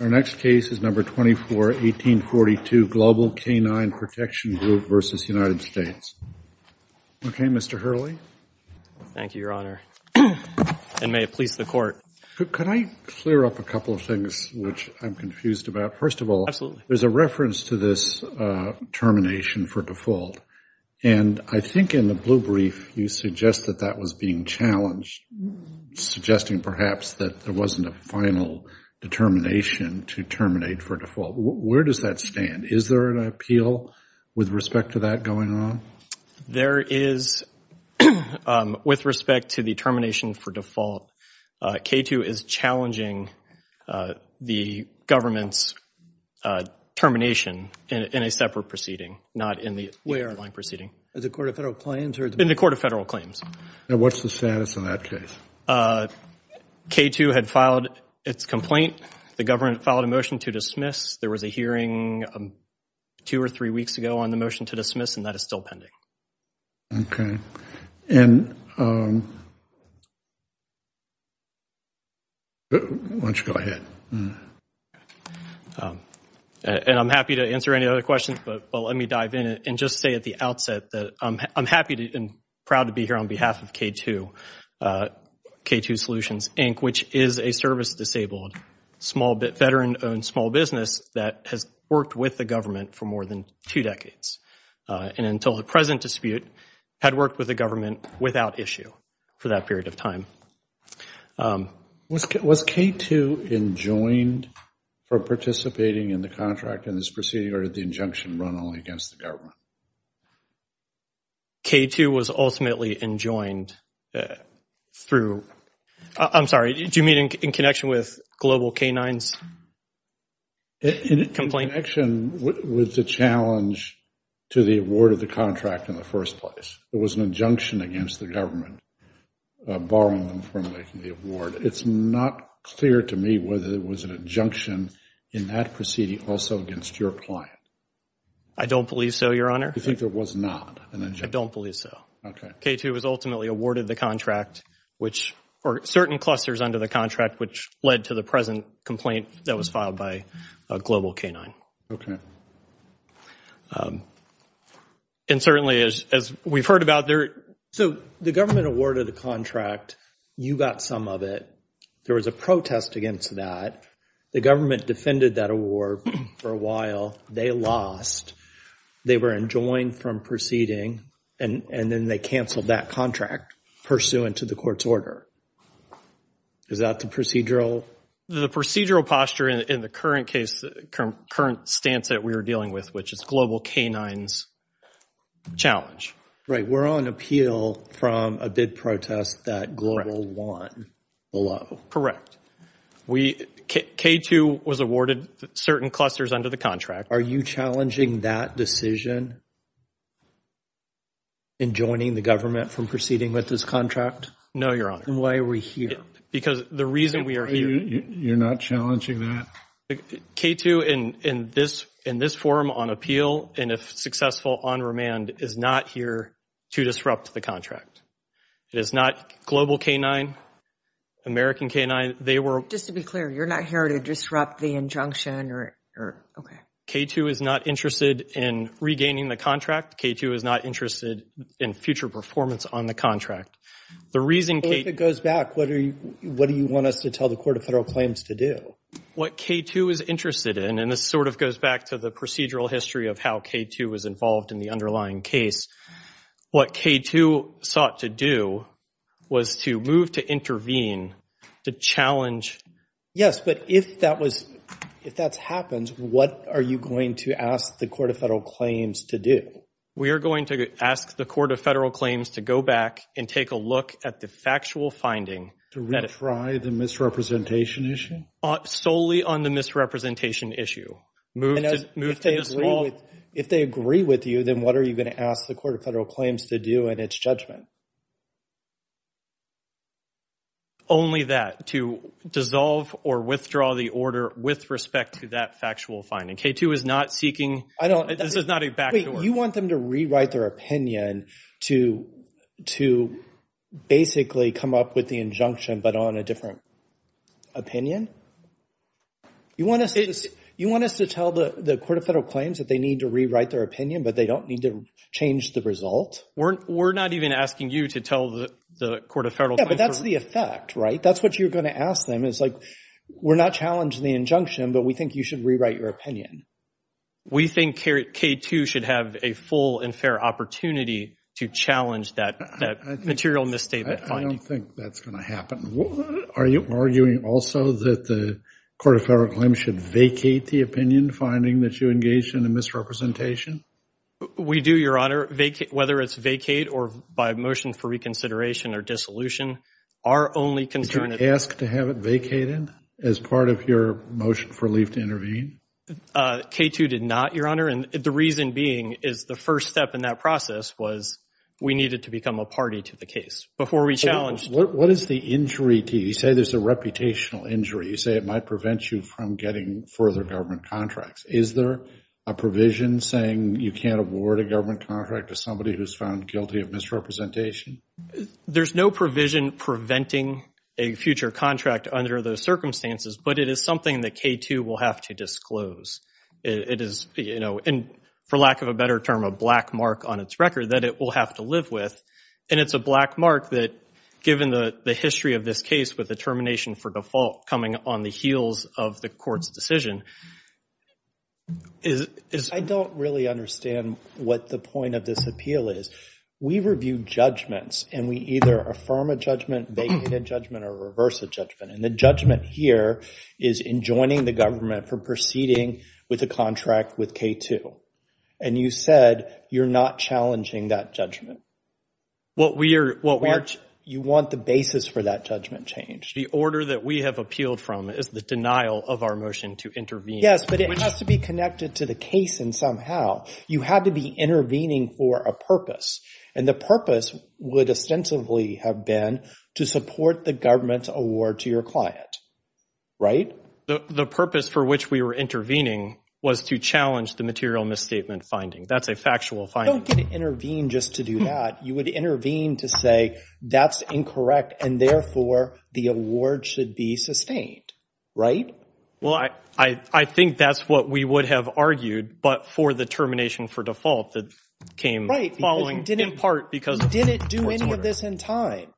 Our next case is No. 24, 1842 Global K9 Protection Group v. United States. Okay, Mr. Hurley. Thank you, Your Honor, and may it please the Court. Could I clear up a couple of things which I'm confused about? First of all, there's a reference to this termination for default, and I think in the blue brief you suggest that that was being challenged, suggesting perhaps that there wasn't a final determination to terminate for default. Where does that stand? Is there an appeal with respect to that going on? There is. With respect to the termination for default, K2 is challenging the government's termination in a separate proceeding, not in the underlying proceeding. Where? In the Court of Federal Claims? In the Court of Federal Claims. And what's the status on that case? K2 had filed its complaint. The government filed a motion to dismiss. There was a hearing two or three weeks ago on the motion to dismiss, and that is still pending. Okay, and why don't you go ahead? And I'm happy to answer any other questions, but let me dive in and just say at the outset that I'm happy and proud to be here on behalf of K2 Solutions, Inc., which is a service-disabled veteran-owned small business that has worked with the government for more than two decades, and until the present dispute, had worked with the government without issue for that period of time. Was K2 enjoined for participating in the contract in this proceeding, or did the injunction run only against the government? K2 was ultimately enjoined through, I'm sorry, do you mean in connection with Global K-9's complaint? In connection with the challenge to the award of the contract in the first place. There was an injunction against the government borrowing from the award. It's not clear to me whether there was an injunction in that proceeding also against your client. I don't believe so, Your Honor. You think there was not an injunction? I don't believe so. Okay. K2 was ultimately awarded the contract, or certain clusters under the contract, which led to the present complaint that was filed by Global K-9. Okay. And certainly, as we've heard about, there... So the government awarded a contract. You got some of it. There was a protest against that. The government defended that award for a while. They lost. They were enjoined from proceeding, and then they canceled that contract pursuant to the court's order. Is that the procedural? The procedural posture in the current stance that we were dealing with, which is Global K-9's challenge. Right. We're on appeal from a bid protest that Global won the law. Correct. K2 was awarded certain clusters under the contract. Are you challenging that decision in joining the government from proceeding with this contract? No, Your Honor. Why are we here? Because the reason we are here... You're not challenging that? K2, in this forum on appeal, and if successful on remand, is not here to disrupt the contract. It is not Global K-9, American K-9. They were... Just to be clear, you're not here to disrupt the injunction, or... Okay. K2 is not interested in regaining the contract. K2 is not interested in future performance on the contract. The reason K... If it goes back, what do you want us to tell the Court of Federal Claims to do? What K2 is interested in, and this sort of goes back to the procedural history of how K2 was involved in the underlying case, what K2 sought to do was to move to intervene, to challenge... Yes, but if that was... If that happens, what are you going to ask the Court of Federal Claims to do? We are going to ask the Court of Federal Claims to go back and take a look at the factual finding... To retry the misrepresentation issue? Solely on the misrepresentation issue. Move to... If they agree with you, then what are you going to ask the Court of Federal Claims to do in its judgment? Only that, to dissolve or withdraw the order with respect to that factual finding. K2 is not seeking... I don't... This is not a back door. You want them to rewrite their opinion to basically come up with the injunction, but on a different opinion? You want us to tell the Court of Federal Claims that they need to rewrite their opinion, but they don't need to change the result? We're not even asking you to tell the Court of Federal Claims... Yeah, but that's the effect, right? That's what you're going to ask them. It's like, we're not challenging the injunction, but we think you should rewrite your opinion. We think K2 should have a full and fair opportunity to challenge that material misstatement finding. I don't think that's going to happen. Are you arguing also that the Court of Federal Claims should vacate the opinion finding that you engaged in a misrepresentation? We do, Your Honor. Whether it's vacate or by motion for reconsideration or dissolution, our only concern... Did you ask to have it vacated as part of your motion for leave to intervene? K2 did not, Your Honor, and the reason being is the first step in that process was we needed to become a party to the case before we challenged... What is the injury to you? You say there's a reputational injury. You say it might prevent you from getting further government contracts. Is there a provision saying you can't award a government contract to somebody who's found guilty of misrepresentation? There's no provision preventing a future contract under those circumstances, but it is something that K2 will have to disclose. It is, you know, and for lack of a better term, a black mark on its record that it will have to live with, and it's a black mark that given the history of this case with the termination for default coming on the heels of the Court's decision... I don't really understand what the point of this appeal is. We review judgments, and we either affirm a judgment, vacate a judgment, or reverse a judgment, and the judgment here is in joining the government for proceeding with a contract with K2, and you said you're not challenging that judgment. You want the basis for that judgment change. The order that we have appealed from is the denial of our motion to intervene. Yes, but it has to be connected to the case, and somehow you had to be intervening for a purpose, and the purpose would ostensibly have been to support the government's award to your client. Right? The purpose for which we were intervening was to challenge the material misstatement finding. That's a factual finding. You don't get to intervene just to do that. You would intervene to say that's incorrect, and therefore the award should be sustained, right? Well, I think that's what we would have argued, but for the termination for default that came following, in part because... We didn't do any of this in time.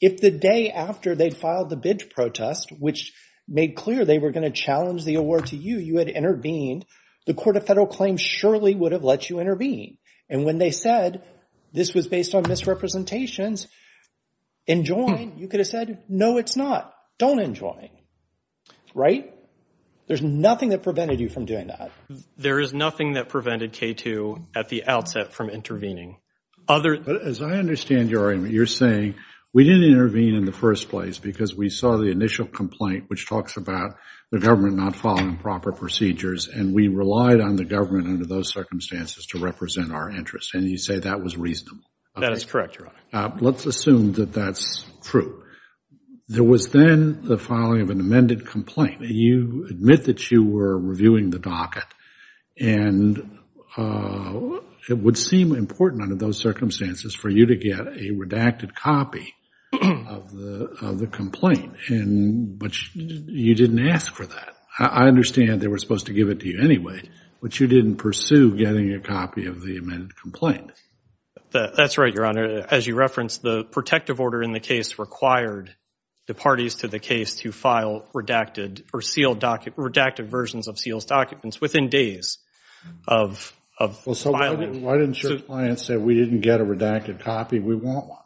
If the day after they'd filed the bid protest, which made clear they were going to challenge the award to you, you had intervened, the Court of Federal Claims surely would have let you intervene, and when they said this was based on misrepresentations, enjoin, you could have said, no, it's not. Don't enjoin. Right? There's nothing that prevented you from doing that. There is nothing that prevented K2 at the outset from intervening. Other... As I understand your argument, you're saying we didn't intervene in the first place because we saw the initial complaint, which talks about the government not following proper procedures, and we relied on the government under those circumstances to represent our interest, and you say that was reasonable. That is correct, Your Honor. Let's assume that that's true. There was then the filing of an amended complaint. You admit that you were reviewing the docket, and it would seem important under those circumstances for you to get a redacted copy of the complaint, but you didn't ask for that. I understand they were supposed to give it to you anyway, but you didn't pursue getting a copy of the amended complaint. That's right, Your Honor. As you referenced, the protective order in the case required the parties to the of filing. Why didn't your client say we didn't get a redacted copy? We want one.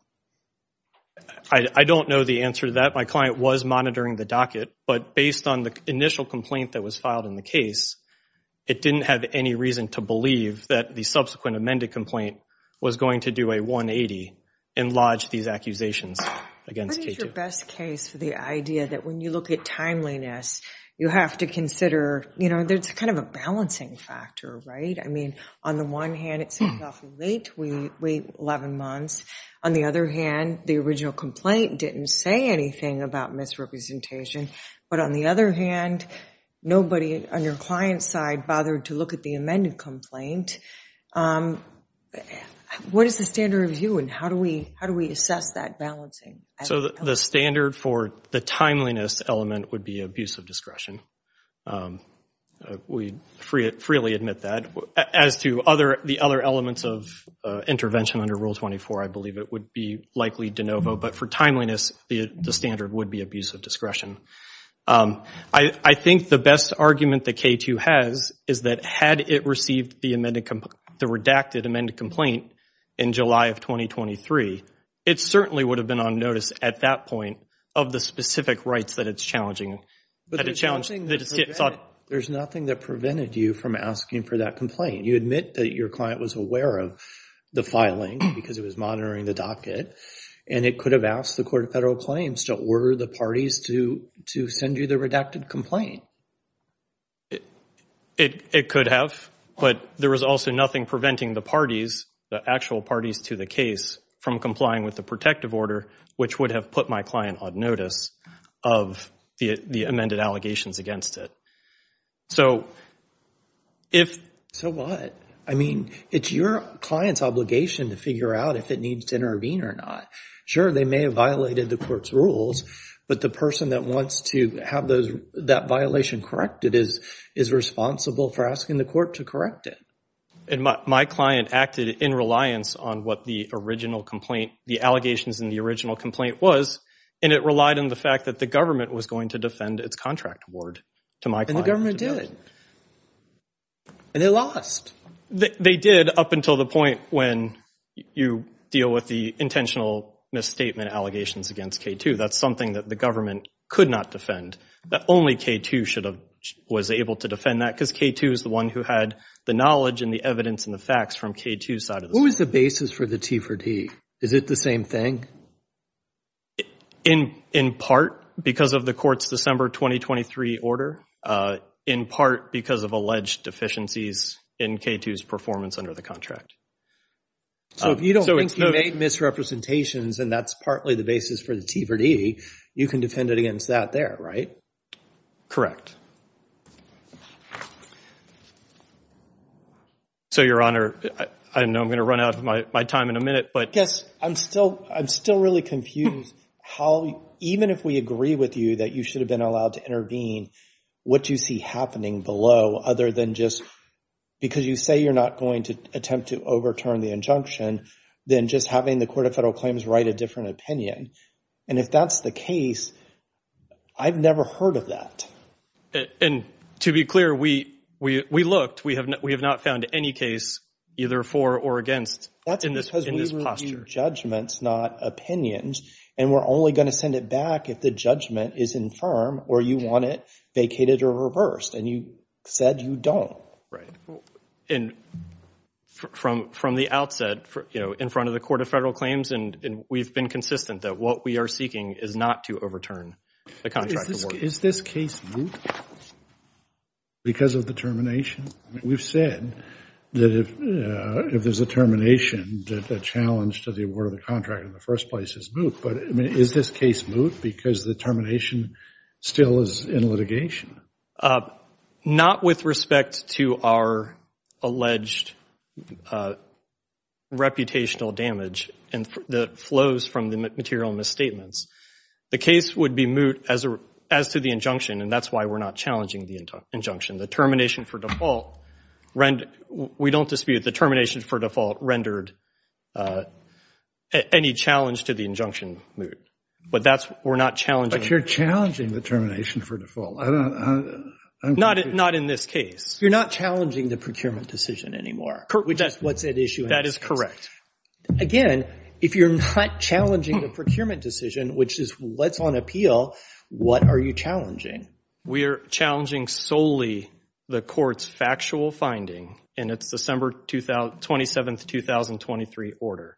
I don't know the answer to that. My client was monitoring the docket, but based on the initial complaint that was filed in the case, it didn't have any reason to believe that the subsequent amended complaint was going to do a 180 and lodge these accusations against K2. What is your best case for the idea that when you look at timeliness, you have to consider, you know, there's kind of a balancing factor, right? I mean, on the one hand, it seems awfully late. We wait 11 months. On the other hand, the original complaint didn't say anything about misrepresentation, but on the other hand, nobody on your client's side bothered to look at the amended complaint. What is the standard of view, and how do we assess that balancing? So the standard for the timeliness element would be abuse of discretion. We freely admit that. As to the other elements of intervention under Rule 24, I believe it would be likely de novo, but for timeliness, the standard would be abuse of discretion. I think the best argument that K2 has is that had it received the redacted amended complaint in July of 2023, it certainly would have been on notice at that point of the specific rights that it's challenging. There's nothing that prevented you from asking for that complaint. You admit that your client was aware of the filing because it was monitoring the docket, and it could have asked the Court of Federal Claims to order the parties to send you the redacted complaint. It could have, but there was also nothing preventing the parties, the actual parties to the case, from complying with the protective order, which would have put my client on notice of the amended allegations against it. So if... So what? I mean, it's your client's obligation to figure out if it needs to intervene or not. Sure, they may have violated the Court's rules, but the person that wants to have that violation corrected is responsible for asking the Court to correct it. And my client acted in reliance on what the original complaint, the allegations in the original complaint was, and it relied on the fact that the government was going to defend its contract award to my client. And the government did. And they lost. They did up until the point when you deal with the intentional misstatement allegations against K2. That's something that the government could not defend. Only K2 should have, was able to defend that because K2 is the one who had the knowledge and the evidence and the facts from K2's side of the story. What was the basis for the T4D? Is it the same thing? In part, because of the Court's December 2023 order. In part, because of alleged deficiencies in K2's performance under the contract. So if you don't think you made misrepresentations, and that's partly the basis for the T4D, you can defend it against that there, right? Correct. So, Your Honor, I know I'm going to run out of my time in a minute, but- Yes. I'm still really confused how, even if we agree with you that you should have been allowed to intervene, what do you see happening below other than just, because you say you're not going to attempt to overturn the injunction, than just having the Court of Federal Claims write a different opinion? And if that's the case, I've never heard of that. And to be clear, we looked. We have not found any case either for or against in this posture. That's because we review judgments, not opinions, and we're only going to send it back if the judgment is infirm or you want it vacated or reversed, and you said you don't. Right. And from the outset, you know, in front of the Court of Federal Claims, and we've been consistent that what we are seeking is not to overturn the contract. Is this case moot because of the termination? We've said that if there's a termination, that the challenge to the award of the contract in the first place is moot, but I mean, is this case moot because the termination still is in litigation? Uh, not with respect to our alleged reputational damage and the flows from the material misstatements. The case would be moot as to the injunction, and that's why we're not challenging the injunction. The termination for default, we don't dispute the termination for default rendered any challenge to the injunction moot, but that's, we're not challenging. You're challenging the termination for default. Not in this case. You're not challenging the procurement decision anymore. That's what's at issue. That is correct. Again, if you're not challenging the procurement decision, which is what's on appeal, what are you challenging? We're challenging solely the court's factual finding in its December 27, 2023 order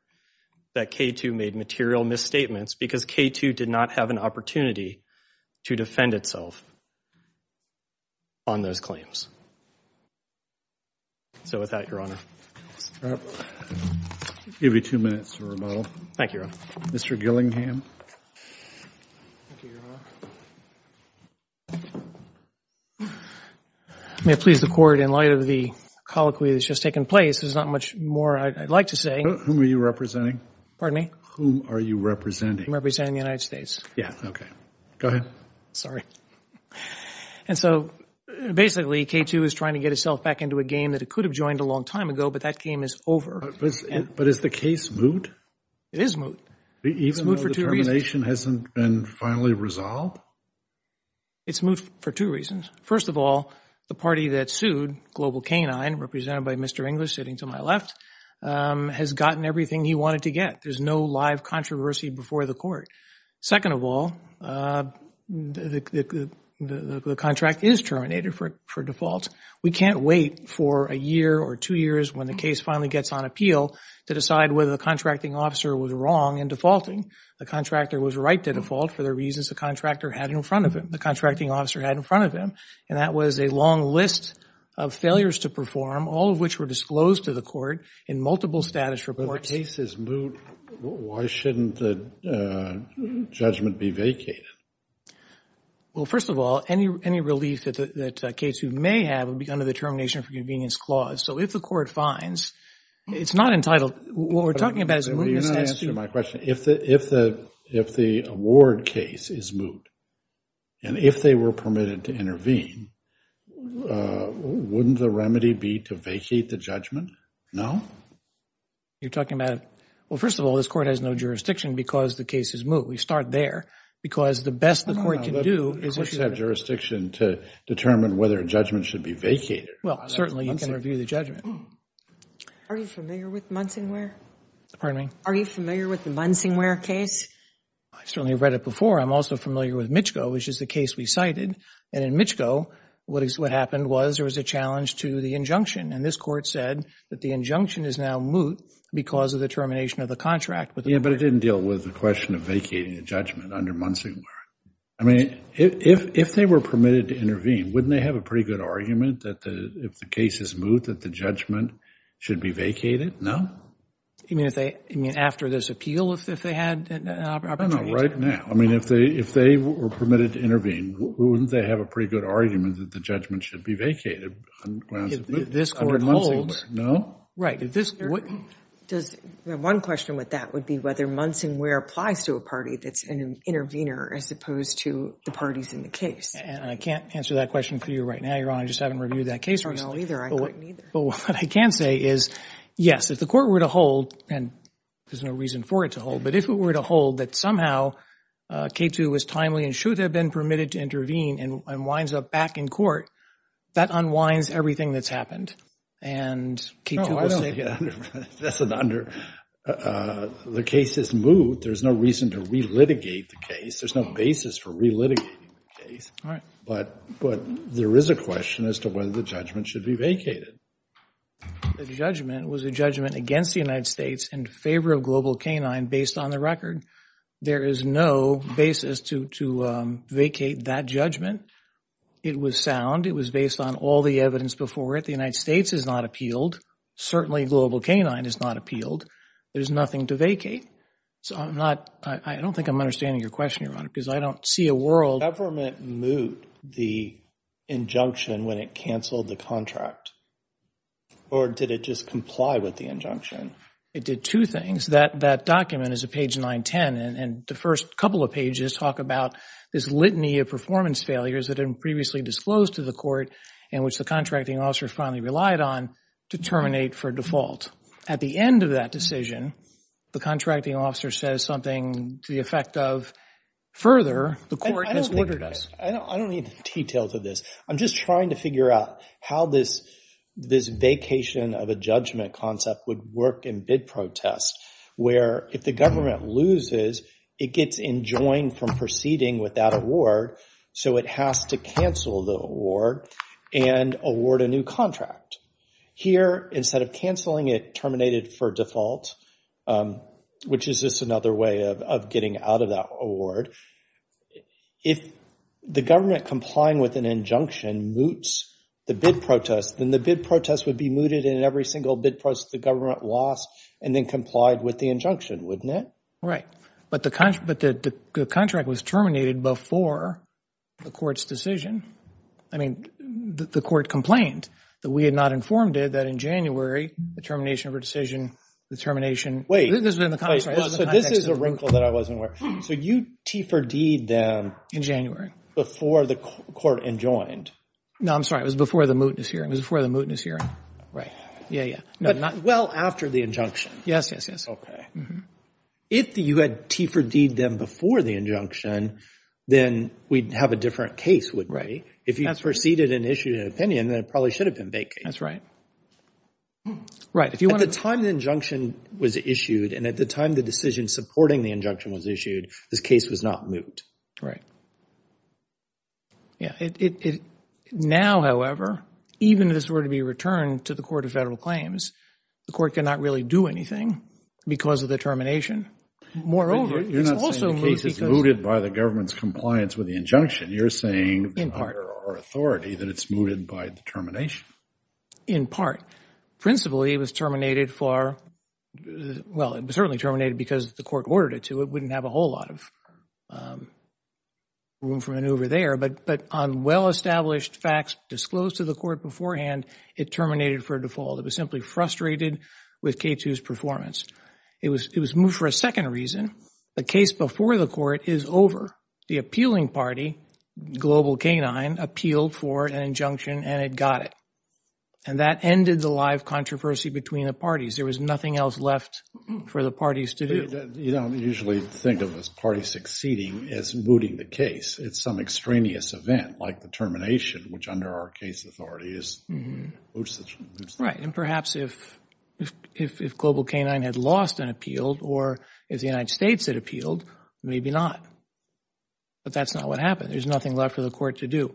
that K2 made material misstatements because K2 did not have an opportunity to defend itself on those claims. So with that, Your Honor. Give you two minutes to rebuttal. Thank you, Your Honor. Mr. Gillingham. May it please the Court, in light of the colloquy that's just taken place, there's not much more I'd like to say. Whom are you representing? Pardon me? Whom are you representing? I'm representing the United States. Yeah, okay. Go ahead. Sorry. And so, basically, K2 is trying to get itself back into a game that it could have joined a long time ago, but that game is over. But is the case moot? It is moot. Even though the termination hasn't been finally resolved? It's moot for two reasons. First of all, the party that sued, Global K-9, represented by Mr. English sitting to my left, has gotten everything he wanted to get. There's no live controversy before the Court. Second of all, the contract is terminated for default. We can't wait for a year or two years when the case finally gets on appeal to decide whether the contracting officer was wrong in defaulting. The contractor was right to default for the reasons the contractor had in front of him, the contracting officer had in front of him. And that was a long list of failures to perform, all of which were disclosed to the Court in multiple status reports. If the case is moot, why shouldn't the judgment be vacated? Well, first of all, any relief that K2 may have would be under the Termination of Convenience Clause. So if the Court finds, it's not entitled, what we're talking about is mootness. You're not answering my question. If the award case is moot, and if they were permitted to intervene, wouldn't the remedy be to vacate the judgment? No? You're talking about, well, first of all, this Court has no jurisdiction because the case is moot. We start there because the best the Court can do is... The Court should have jurisdiction to determine whether a judgment should be vacated. Well, certainly you can review the judgment. Are you familiar with Munsonware? Pardon me? Are you familiar with the Munsonware case? I certainly read it before. I'm also familiar with Michco, which is the case we cited. And in Michco, what happened was there was a challenge to the injunction. And this Court said that the injunction is now moot because of the termination of the contract. Yeah, but it didn't deal with the question of vacating the judgment under Munsonware. I mean, if they were permitted to intervene, wouldn't they have a pretty good argument that if the case is moot, that the judgment should be vacated? No? You mean, after this appeal, if they had an opportunity to? No, not right now. I mean, if they were permitted to intervene, wouldn't they have a pretty good argument that the judgment should be vacated? This Court holds... Right. One question with that would be whether Munsonware applies to a party that's an intervener as opposed to the parties in the case. I can't answer that question for you right now, Your Honor. I just haven't reviewed that case. I don't know either. I couldn't either. What I can say is, yes, if the Court were to hold, and there's no reason for it to hold, but if it were to hold that somehow K2 was timely and should have been permitted to intervene and winds up back in court, that unwinds everything that's happened. The case is moot. There's no reason to relitigate the case. There's no basis for relitigating the case. But there is a question as to whether the judgment should be vacated. The judgment was a judgment against the United States in favor of Global Canine based on the record. There is no basis to vacate that judgment. It was sound. It was based on all the evidence before it. The United States has not appealed. Certainly Global Canine has not appealed. There's nothing to vacate. So I'm not... I don't think I'm understanding your question, Your Honor, because I don't see a world... Did the government moot the injunction when it canceled the contract? Or did it just comply with the injunction? It did two things. That document is at page 910, and the first couple of pages talk about this litany of performance failures that had been previously disclosed to the Court and which the contracting officer finally relied on to terminate for default. At the end of that decision, the contracting officer says something to the effect of, further, the Court has ordered us... I don't need the details of this. I'm just trying to figure out how this vacation of a judgment concept would work in bid protest, where if the government loses, it gets enjoined from proceeding with that award. So it has to cancel the award and award a new contract. Here, instead of canceling it, terminated for default, which is just another way of getting out of that award. If the government complying with an injunction moots the bid protest, then the bid protest would be mooted in every single bid protest the government lost and then complied with the injunction, wouldn't it? Right. But the contract was terminated before the Court's decision. I mean, the Court complained that we had not informed it that in January, the termination of a decision, the termination... Wait. So this is a wrinkle that I wasn't aware of. So you T for deed them... In January. ...before the Court enjoined. No, I'm sorry. It was before the mootness hearing. It was before the mootness hearing. Right. Yeah, yeah. Well, after the injunction. Yes, yes, yes. Okay. If you had T for deed them before the injunction, then we'd have a different case, wouldn't we? If you proceeded and issued an opinion, then it probably should have been vacated. That's right. Right. If you want to... At the time the injunction was issued and at the time the decision supporting the injunction was issued, this case was not moot. Right. Yeah. Now, however, even if this were to be returned to the Court of Federal Claims, the Court cannot really do anything because of the termination. Moreover, it's also moot because... You're not saying the case is mooted by the government's compliance with the injunction. You're saying... ...under our authority that it's mooted by the termination. In part. Principally, it was terminated for... Well, it was certainly terminated because the court ordered it to. It wouldn't have a whole lot of room for maneuver there. But on well-established facts disclosed to the court beforehand, it terminated for default. It was simply frustrated with K2's performance. It was moot for a second reason. The case before the court is over. The appealing party, Global K9, appealed for an injunction and it got it. And that ended the live controversy between the parties. There was nothing else left for the parties to do. You don't usually think of this party succeeding as mooting the case. It's some extraneous event like the termination, which under our case authority is moot. Right. And perhaps if Global K9 had lost an appeal or if the United States had appealed, maybe not. But that's not what happened. There's nothing left for the court to do.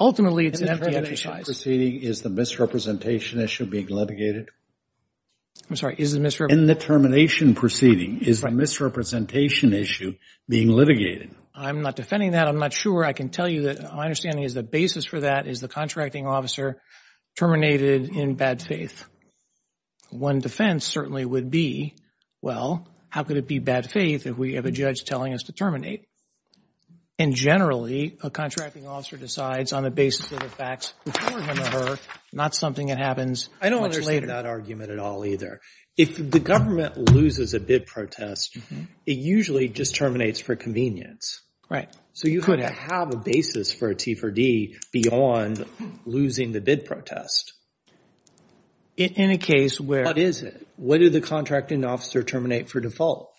Ultimately, it's an empty exercise. In the termination proceeding, is the misrepresentation issue being litigated? I'm sorry, is the misrepresentation... In the termination proceeding, is the misrepresentation issue being litigated? I'm not defending that. I'm not sure. I can tell you that my understanding is the basis for that is the contracting officer terminated in bad faith. One defense certainly would be, well, how could it be bad faith if we have a judge telling us to terminate? And generally, a contracting officer decides on the basis of the facts before him or her, not something that happens much later. I don't understand that argument at all either. If the government loses a bid protest, it usually just terminates for convenience. Right. So you could have a basis for a T4D beyond losing the bid protest. In a case where... What is it? What did the contracting officer terminate for default?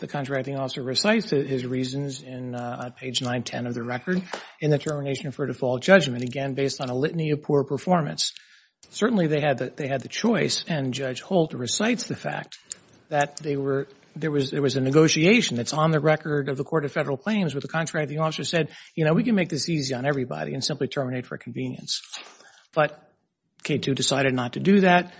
The contracting officer recites his reasons on page 910 of the record in the termination for default judgment, again, based on a litany of poor performance. Certainly, they had the choice. And Judge Holt recites the fact that there was a negotiation that's on the record of the Court of Federal Claims where the contracting officer said, you know, we can make this easy on everybody and simply terminate for convenience. But K2 decided not to do that.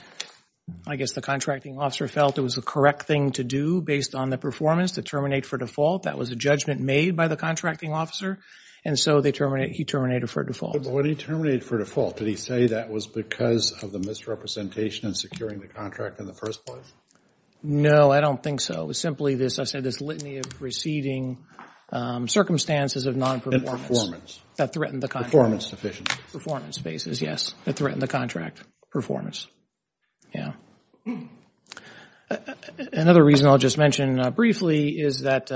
I guess the contracting officer felt it was the correct thing to do based on the performance to terminate for default. That was a judgment made by the contracting officer. And so he terminated for default. But when he terminated for default, did he say that was because of the misrepresentation and securing the contract in the first place? No, I don't think so. Simply this, I said, this litany of receding circumstances of non-performance. And performance. That threatened the contract. Performance deficiencies. Performance basis, yes. That threatened the contract performance. Yeah. Another reason I'll just mention briefly is that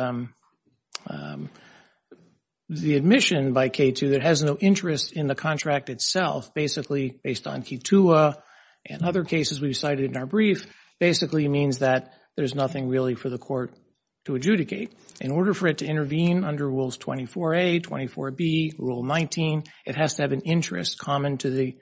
the admission by K2 that has no interest in the contract itself, basically based on K2A and other cases we've cited in our brief, basically means that there's nothing really for the court to adjudicate. In order for it to intervene under Rules 24A, 24B, Rule 19, it has to have an interest common to the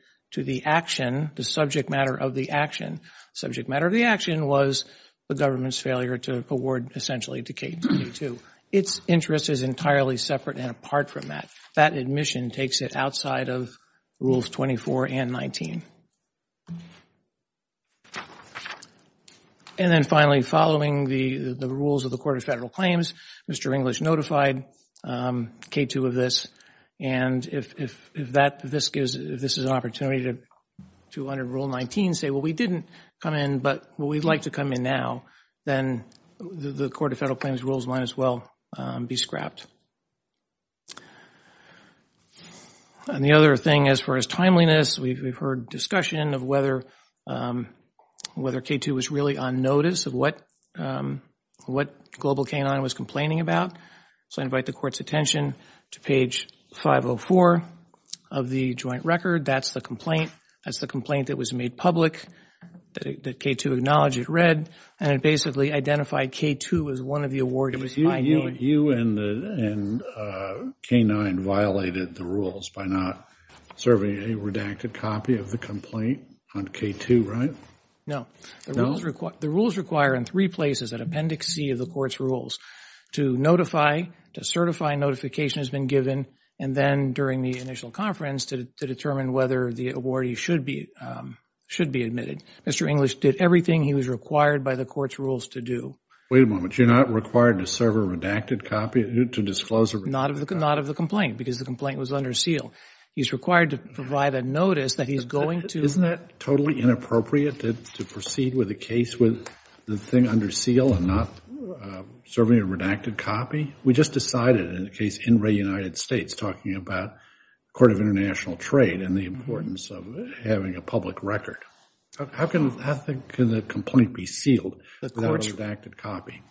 action, the subject matter of the action. Subject matter of the action was the government's failure to award essentially to K2. Its interest is entirely separate and apart from that. That admission takes it outside of Rules 24 and 19. And then finally, following the rules of the Court of Federal Claims, Mr. English notified K2 of this. And if this is an opportunity to under Rule 19 say, well, we didn't come in, but we'd like to come in now, then the Court of Federal Claims rules might as well be scrapped. And the other thing as far as timeliness, we've heard discussion of whether K2 was really on notice of what Global K9 was complaining about. So I invite the Court's attention to page 504 of the joint record. That's the complaint. That's the complaint that was made public, that K2 acknowledged it read, and it basically identified K2 as one of the awardees. You and K9 violated the rules by not serving a redacted copy of the complaint on K2, right? No. The rules require in three places at Appendix C of the Court's rules to notify, to certify notification has been given, and then during the initial conference to determine whether the awardee should be admitted. Mr. English did everything he was required by the Court's rules to do. Wait a moment. You're not required to serve a redacted copy, to disclose a redacted copy? Not of the complaint, because the complaint was under seal. He's required to provide a notice that he's going to... Isn't that totally inappropriate to proceed with a case with the thing under seal and not serving a redacted copy? We just decided in the case in Ray United States talking about Court of International Trade and the importance of having a public record. How can the complaint be sealed without a redacted copy?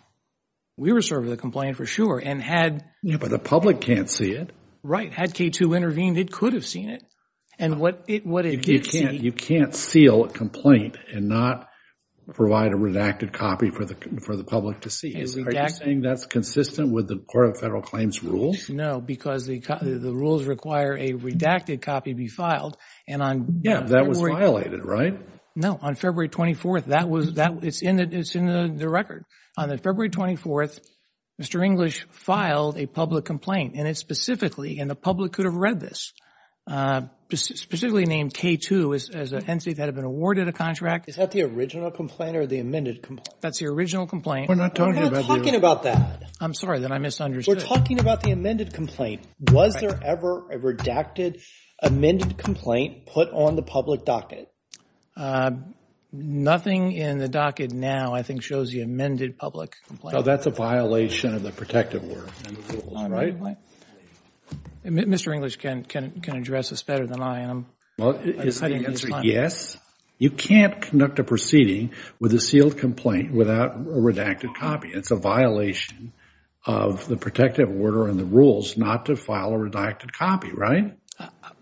We were serving the complaint for sure, and had... But the public can't see it. Right. Had K2 intervened, it could have seen it. And what it did see... You can't seal a complaint and not provide a redacted copy for the public to see. Are you saying that's consistent with the Court of Federal Claims rules? No, because the rules require a redacted copy be filed. And on... Yeah, that was violated, right? No, on February 24th, that was... it's in the record. On the February 24th, Mr. English filed a public complaint, and it specifically, and the public could have read this, uh, specifically named K2 as an entity that had been awarded a contract. Is that the original complaint or the amended complaint? That's the original complaint. We're not talking about that. I'm sorry, then I misunderstood. We're talking about the amended complaint. Was there ever a redacted amended complaint put on the public docket? Nothing in the docket now, I think, shows the amended public complaint. So that's a violation of the protective order and the rules, right? Mr. English can address this better than I am. Well, is the answer yes? You can't conduct a proceeding with a sealed complaint without a redacted copy. It's a violation of the protective order and the rules not to file a redacted copy, right?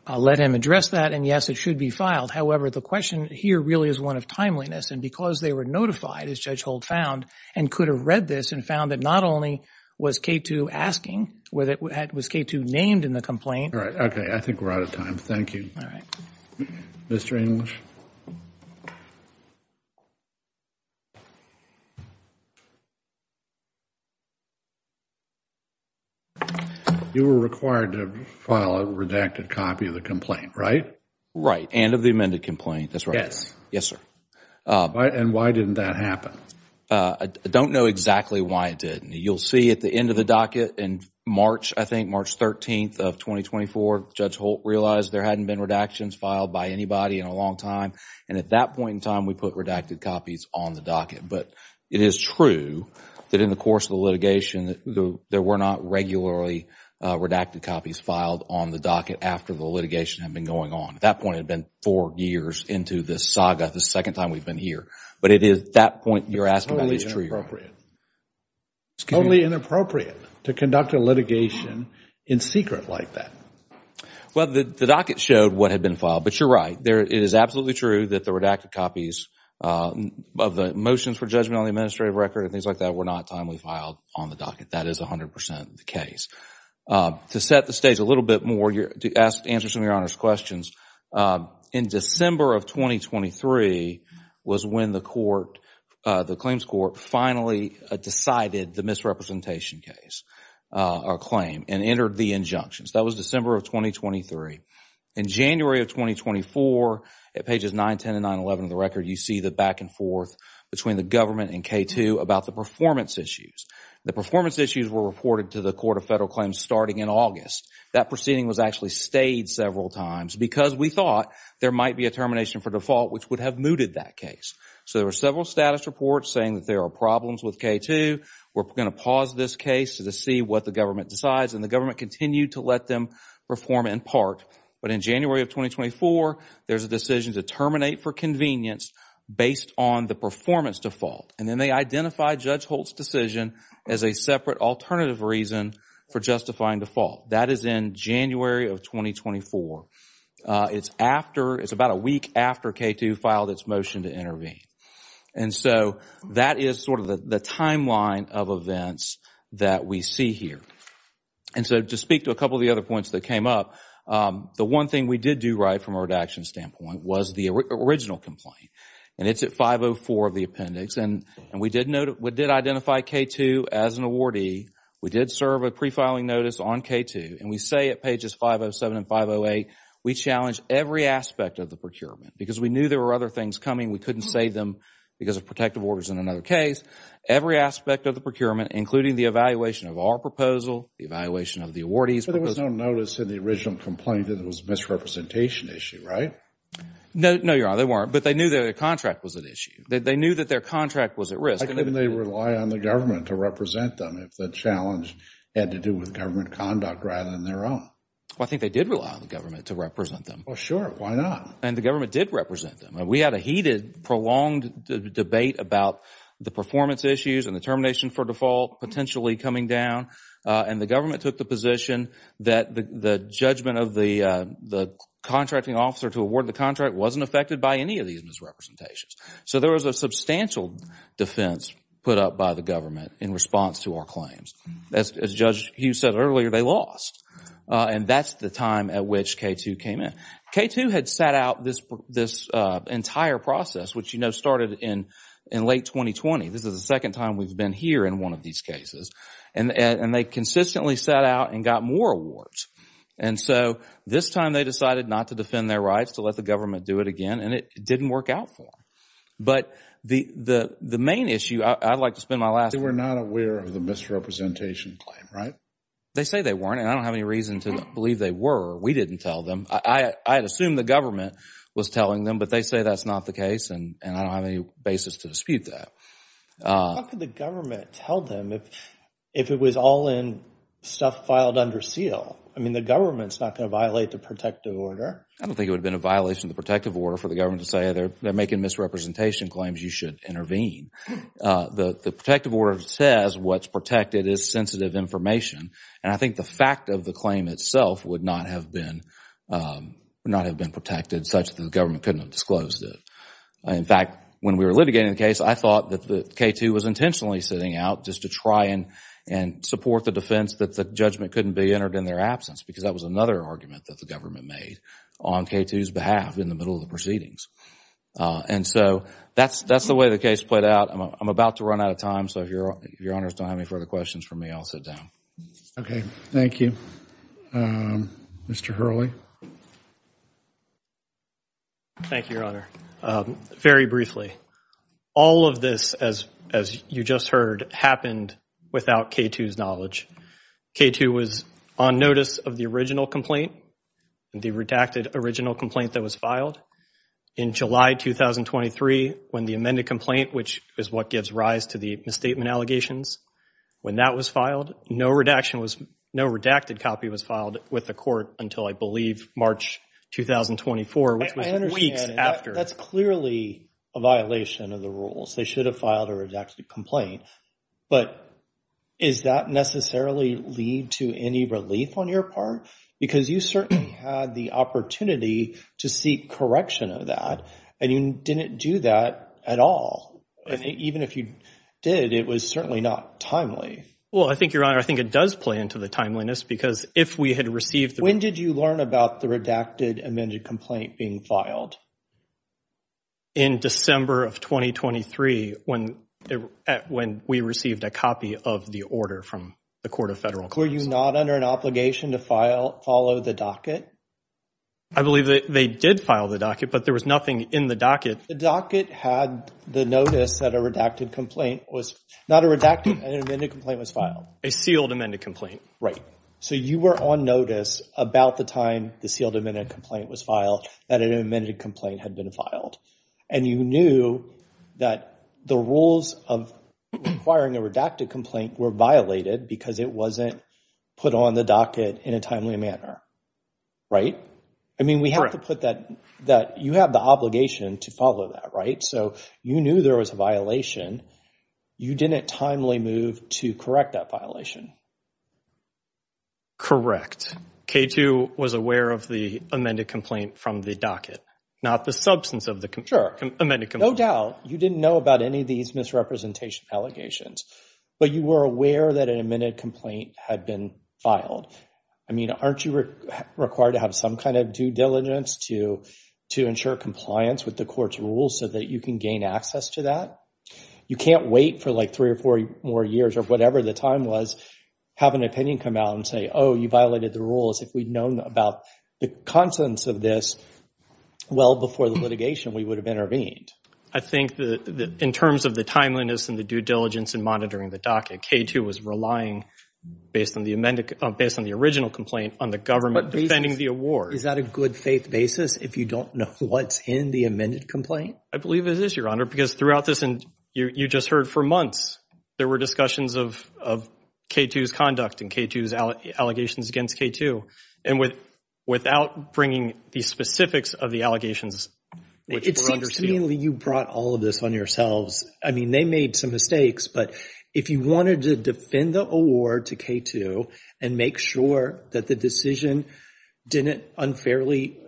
I'll let him address that, and yes, it should be filed. However, the question here really is one of timeliness, and because they were notified, as Judge Holt found, and could have read this and found that not only was K2 asking, was K2 named in the complaint? All right, okay. I think we're out of time. Thank you, Mr. English. You were required to file a redacted copy of the complaint, right? Right, and of the amended complaint. That's right. Yes, sir. And why didn't that happen? I don't know exactly why it didn't. You'll see at the end of the docket in March, I think March 13th of 2024, Judge Holt realized there hadn't been redactions filed by anybody in a long time, and at that point in time, we put redacted copies on the docket. But it is true that in the course of the litigation, there were not regularly redacted copies filed on the docket after the litigation had been going on. At that point, it had been four years into this saga, the second time we've been here. But it is at that point you're asking about is true. It's totally inappropriate to conduct a litigation in secret like that. Well, the docket showed what had been filed, but you're right. There, it is absolutely true that the redacted copies of the motions for judgment on the administrative record and things like that were not timely filed on the docket. That is 100% the case. To set the stage a little bit more, to answer some of your Honor's questions, in December of 2023 was when the claims court finally decided the misrepresentation case or claim and entered the injunctions. That was December of 2023. In January of 2024, at pages 9, 10, and 9, 11 of the record, you see the back and forth between the government and K2 about the performance issues. The performance issues were reported to the Court of Federal Claims starting in August. That proceeding was actually stayed several times because we thought there might be a termination for default, which would have mooted that case. So there were several status reports saying that there are problems with K2. We're going to pause this case to see what the government decides. And the government continued to let them perform in part. But in January of 2024, there's a decision to terminate for convenience based on the performance default. And then they identified Judge Holt's decision as a separate alternative reason for justifying default. That is in January of 2024. It's about a week after K2 filed its motion to intervene. And so that is sort of the timeline of events that we see here. And so to speak to a couple of the other points that came up, the one thing we did do right from a redaction standpoint was the original complaint. And it's at 504 of the appendix. And we did identify K2 as an awardee. We did serve a pre-filing notice on K2. And we say at pages 507 and 508, we challenged every aspect of the procurement. Because we knew there were other things coming. We couldn't save them because of protective orders in another case. Every aspect of the procurement, including the evaluation of our proposal, the evaluation of the awardees. But there was no notice in the original complaint that it was a misrepresentation issue, right? No, Your Honor. They weren't. But they knew that their contract was at issue. They knew that their contract was at risk. Why couldn't they rely on the government to represent them if the challenge had to do with government conduct rather than their own? Well, I think they did rely on the government to represent them. Well, sure. Why not? And the government did represent them. We had a heated, prolonged debate about the performance issues and the termination for default potentially coming down. And the government took the position that the judgment of the contracting officer to award the contract wasn't affected by any of these misrepresentations. So there was a substantial defense put up by the government in response to our claims. As Judge Hughes said earlier, they lost. And that's the time at which K2 came in. K2 had set out this entire process, which, you know, started in late 2020. This is the second time we've been here in one of these cases. And they consistently set out and got more awards. And so this time they decided not to defend their rights, to let the government do it again, and it didn't work out for them. But the main issue, I'd like to spend my last... They were not aware of the misrepresentation claim, right? They say they weren't. And I don't have any reason to believe they were. We didn't tell them. I had assumed the government was telling them, but they say that's not the case. And I don't have any basis to dispute that. How could the government tell them if it was all in stuff filed under seal? I mean, the government's not going to violate the protective order. I don't think it would have been a violation of the protective order for the government to say they're making misrepresentation claims, you should intervene. The protective order says what's protected is sensitive information. And I think the fact of the claim itself would not have been protected such that the government couldn't have disclosed it. In fact, when we were litigating the case, I thought that K2 was intentionally sitting out just to try and support the defense that the judgment couldn't be entered in their absence because that was another argument that the government made on K2's behalf in the middle of the proceedings. And so that's the way the case played out. I'm about to run out of time. So if your honors don't have any further questions for me, I'll sit down. Okay, thank you. Mr. Hurley. Thank you, your honor. Very briefly, all of this, as you just heard, happened without K2's knowledge. K2 was on notice of the original complaint, the redacted original complaint that was filed in July 2023 when the amended complaint, which is what gives rise to the misstatement allegations, when that was filed, no redaction was, no redacted copy was filed with the court until I believe March 2024, which was weeks after. That's clearly a violation of the rules. They should have filed a redacted complaint. But is that necessarily lead to any relief on your part? Because you certainly had the opportunity to seek correction of that and you didn't do that at all. Even if you did, it was certainly not timely. Well, I think, your honor, I think it does play into the timeliness because if we had received... When did you learn about the redacted amended complaint being filed? In December of 2023, when we received a copy of the order from the court of federal... Were you not under an obligation to follow the docket? I believe that they did file the docket, but there was nothing in the docket. The docket had the notice that a redacted complaint was, not a redacted, an amended complaint was filed. A sealed amended complaint. Right. So you were on notice about the time the sealed amended complaint was filed that an amended complaint had been filed. And you knew that the rules of requiring a redacted complaint were violated because it wasn't put on the docket in a timely manner, right? I mean, we have to put that... You have the obligation to follow that, right? So you knew there was a violation. You didn't timely move to correct that violation. Correct. K2 was aware of the amended complaint from the docket, not the substance of the amended complaint. No doubt. You didn't know about any of these misrepresentation allegations, but you were aware that an amended complaint had been filed. I mean, aren't you required to have some kind of due diligence to ensure compliance with the court's rules so that you can gain access to that? You can't wait for like three or four more years or whatever the time was, have an opinion come out and say, oh, you violated the rules. If we'd known about the contents of this well before the litigation, we would have intervened. I think that in terms of the timeliness and the due diligence in monitoring the docket, K2 was relying, based on the original complaint, on the government defending the award. Is that a good faith basis if you don't know what's in the amended complaint? I believe it is, Your Honor, because throughout this, and you just heard for months, there were discussions of K2's conduct and K2's allegations against K2. And without bringing the specifics of the allegations... It seems to me that you brought all of this on yourselves. I mean, they made some mistakes. But if you wanted to defend the award to K2 and make sure that the decision didn't unfairly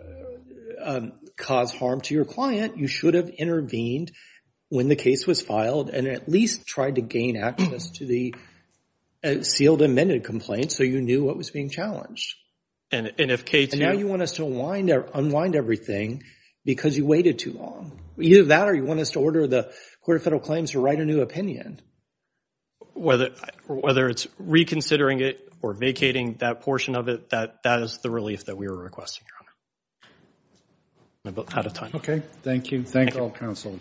cause harm to your client, you should have intervened when the case was filed and at least tried to gain access to the sealed amended complaint so you knew what was being challenged. And if K2... Now you want us to unwind everything because you waited too long. Either that or you want us to order the Court of Federal Claims to write a new opinion. Whether it's reconsidering it or vacating that portion of it, that is the relief that we were requesting, Your Honor. Okay. Thank you. Thank all counsel.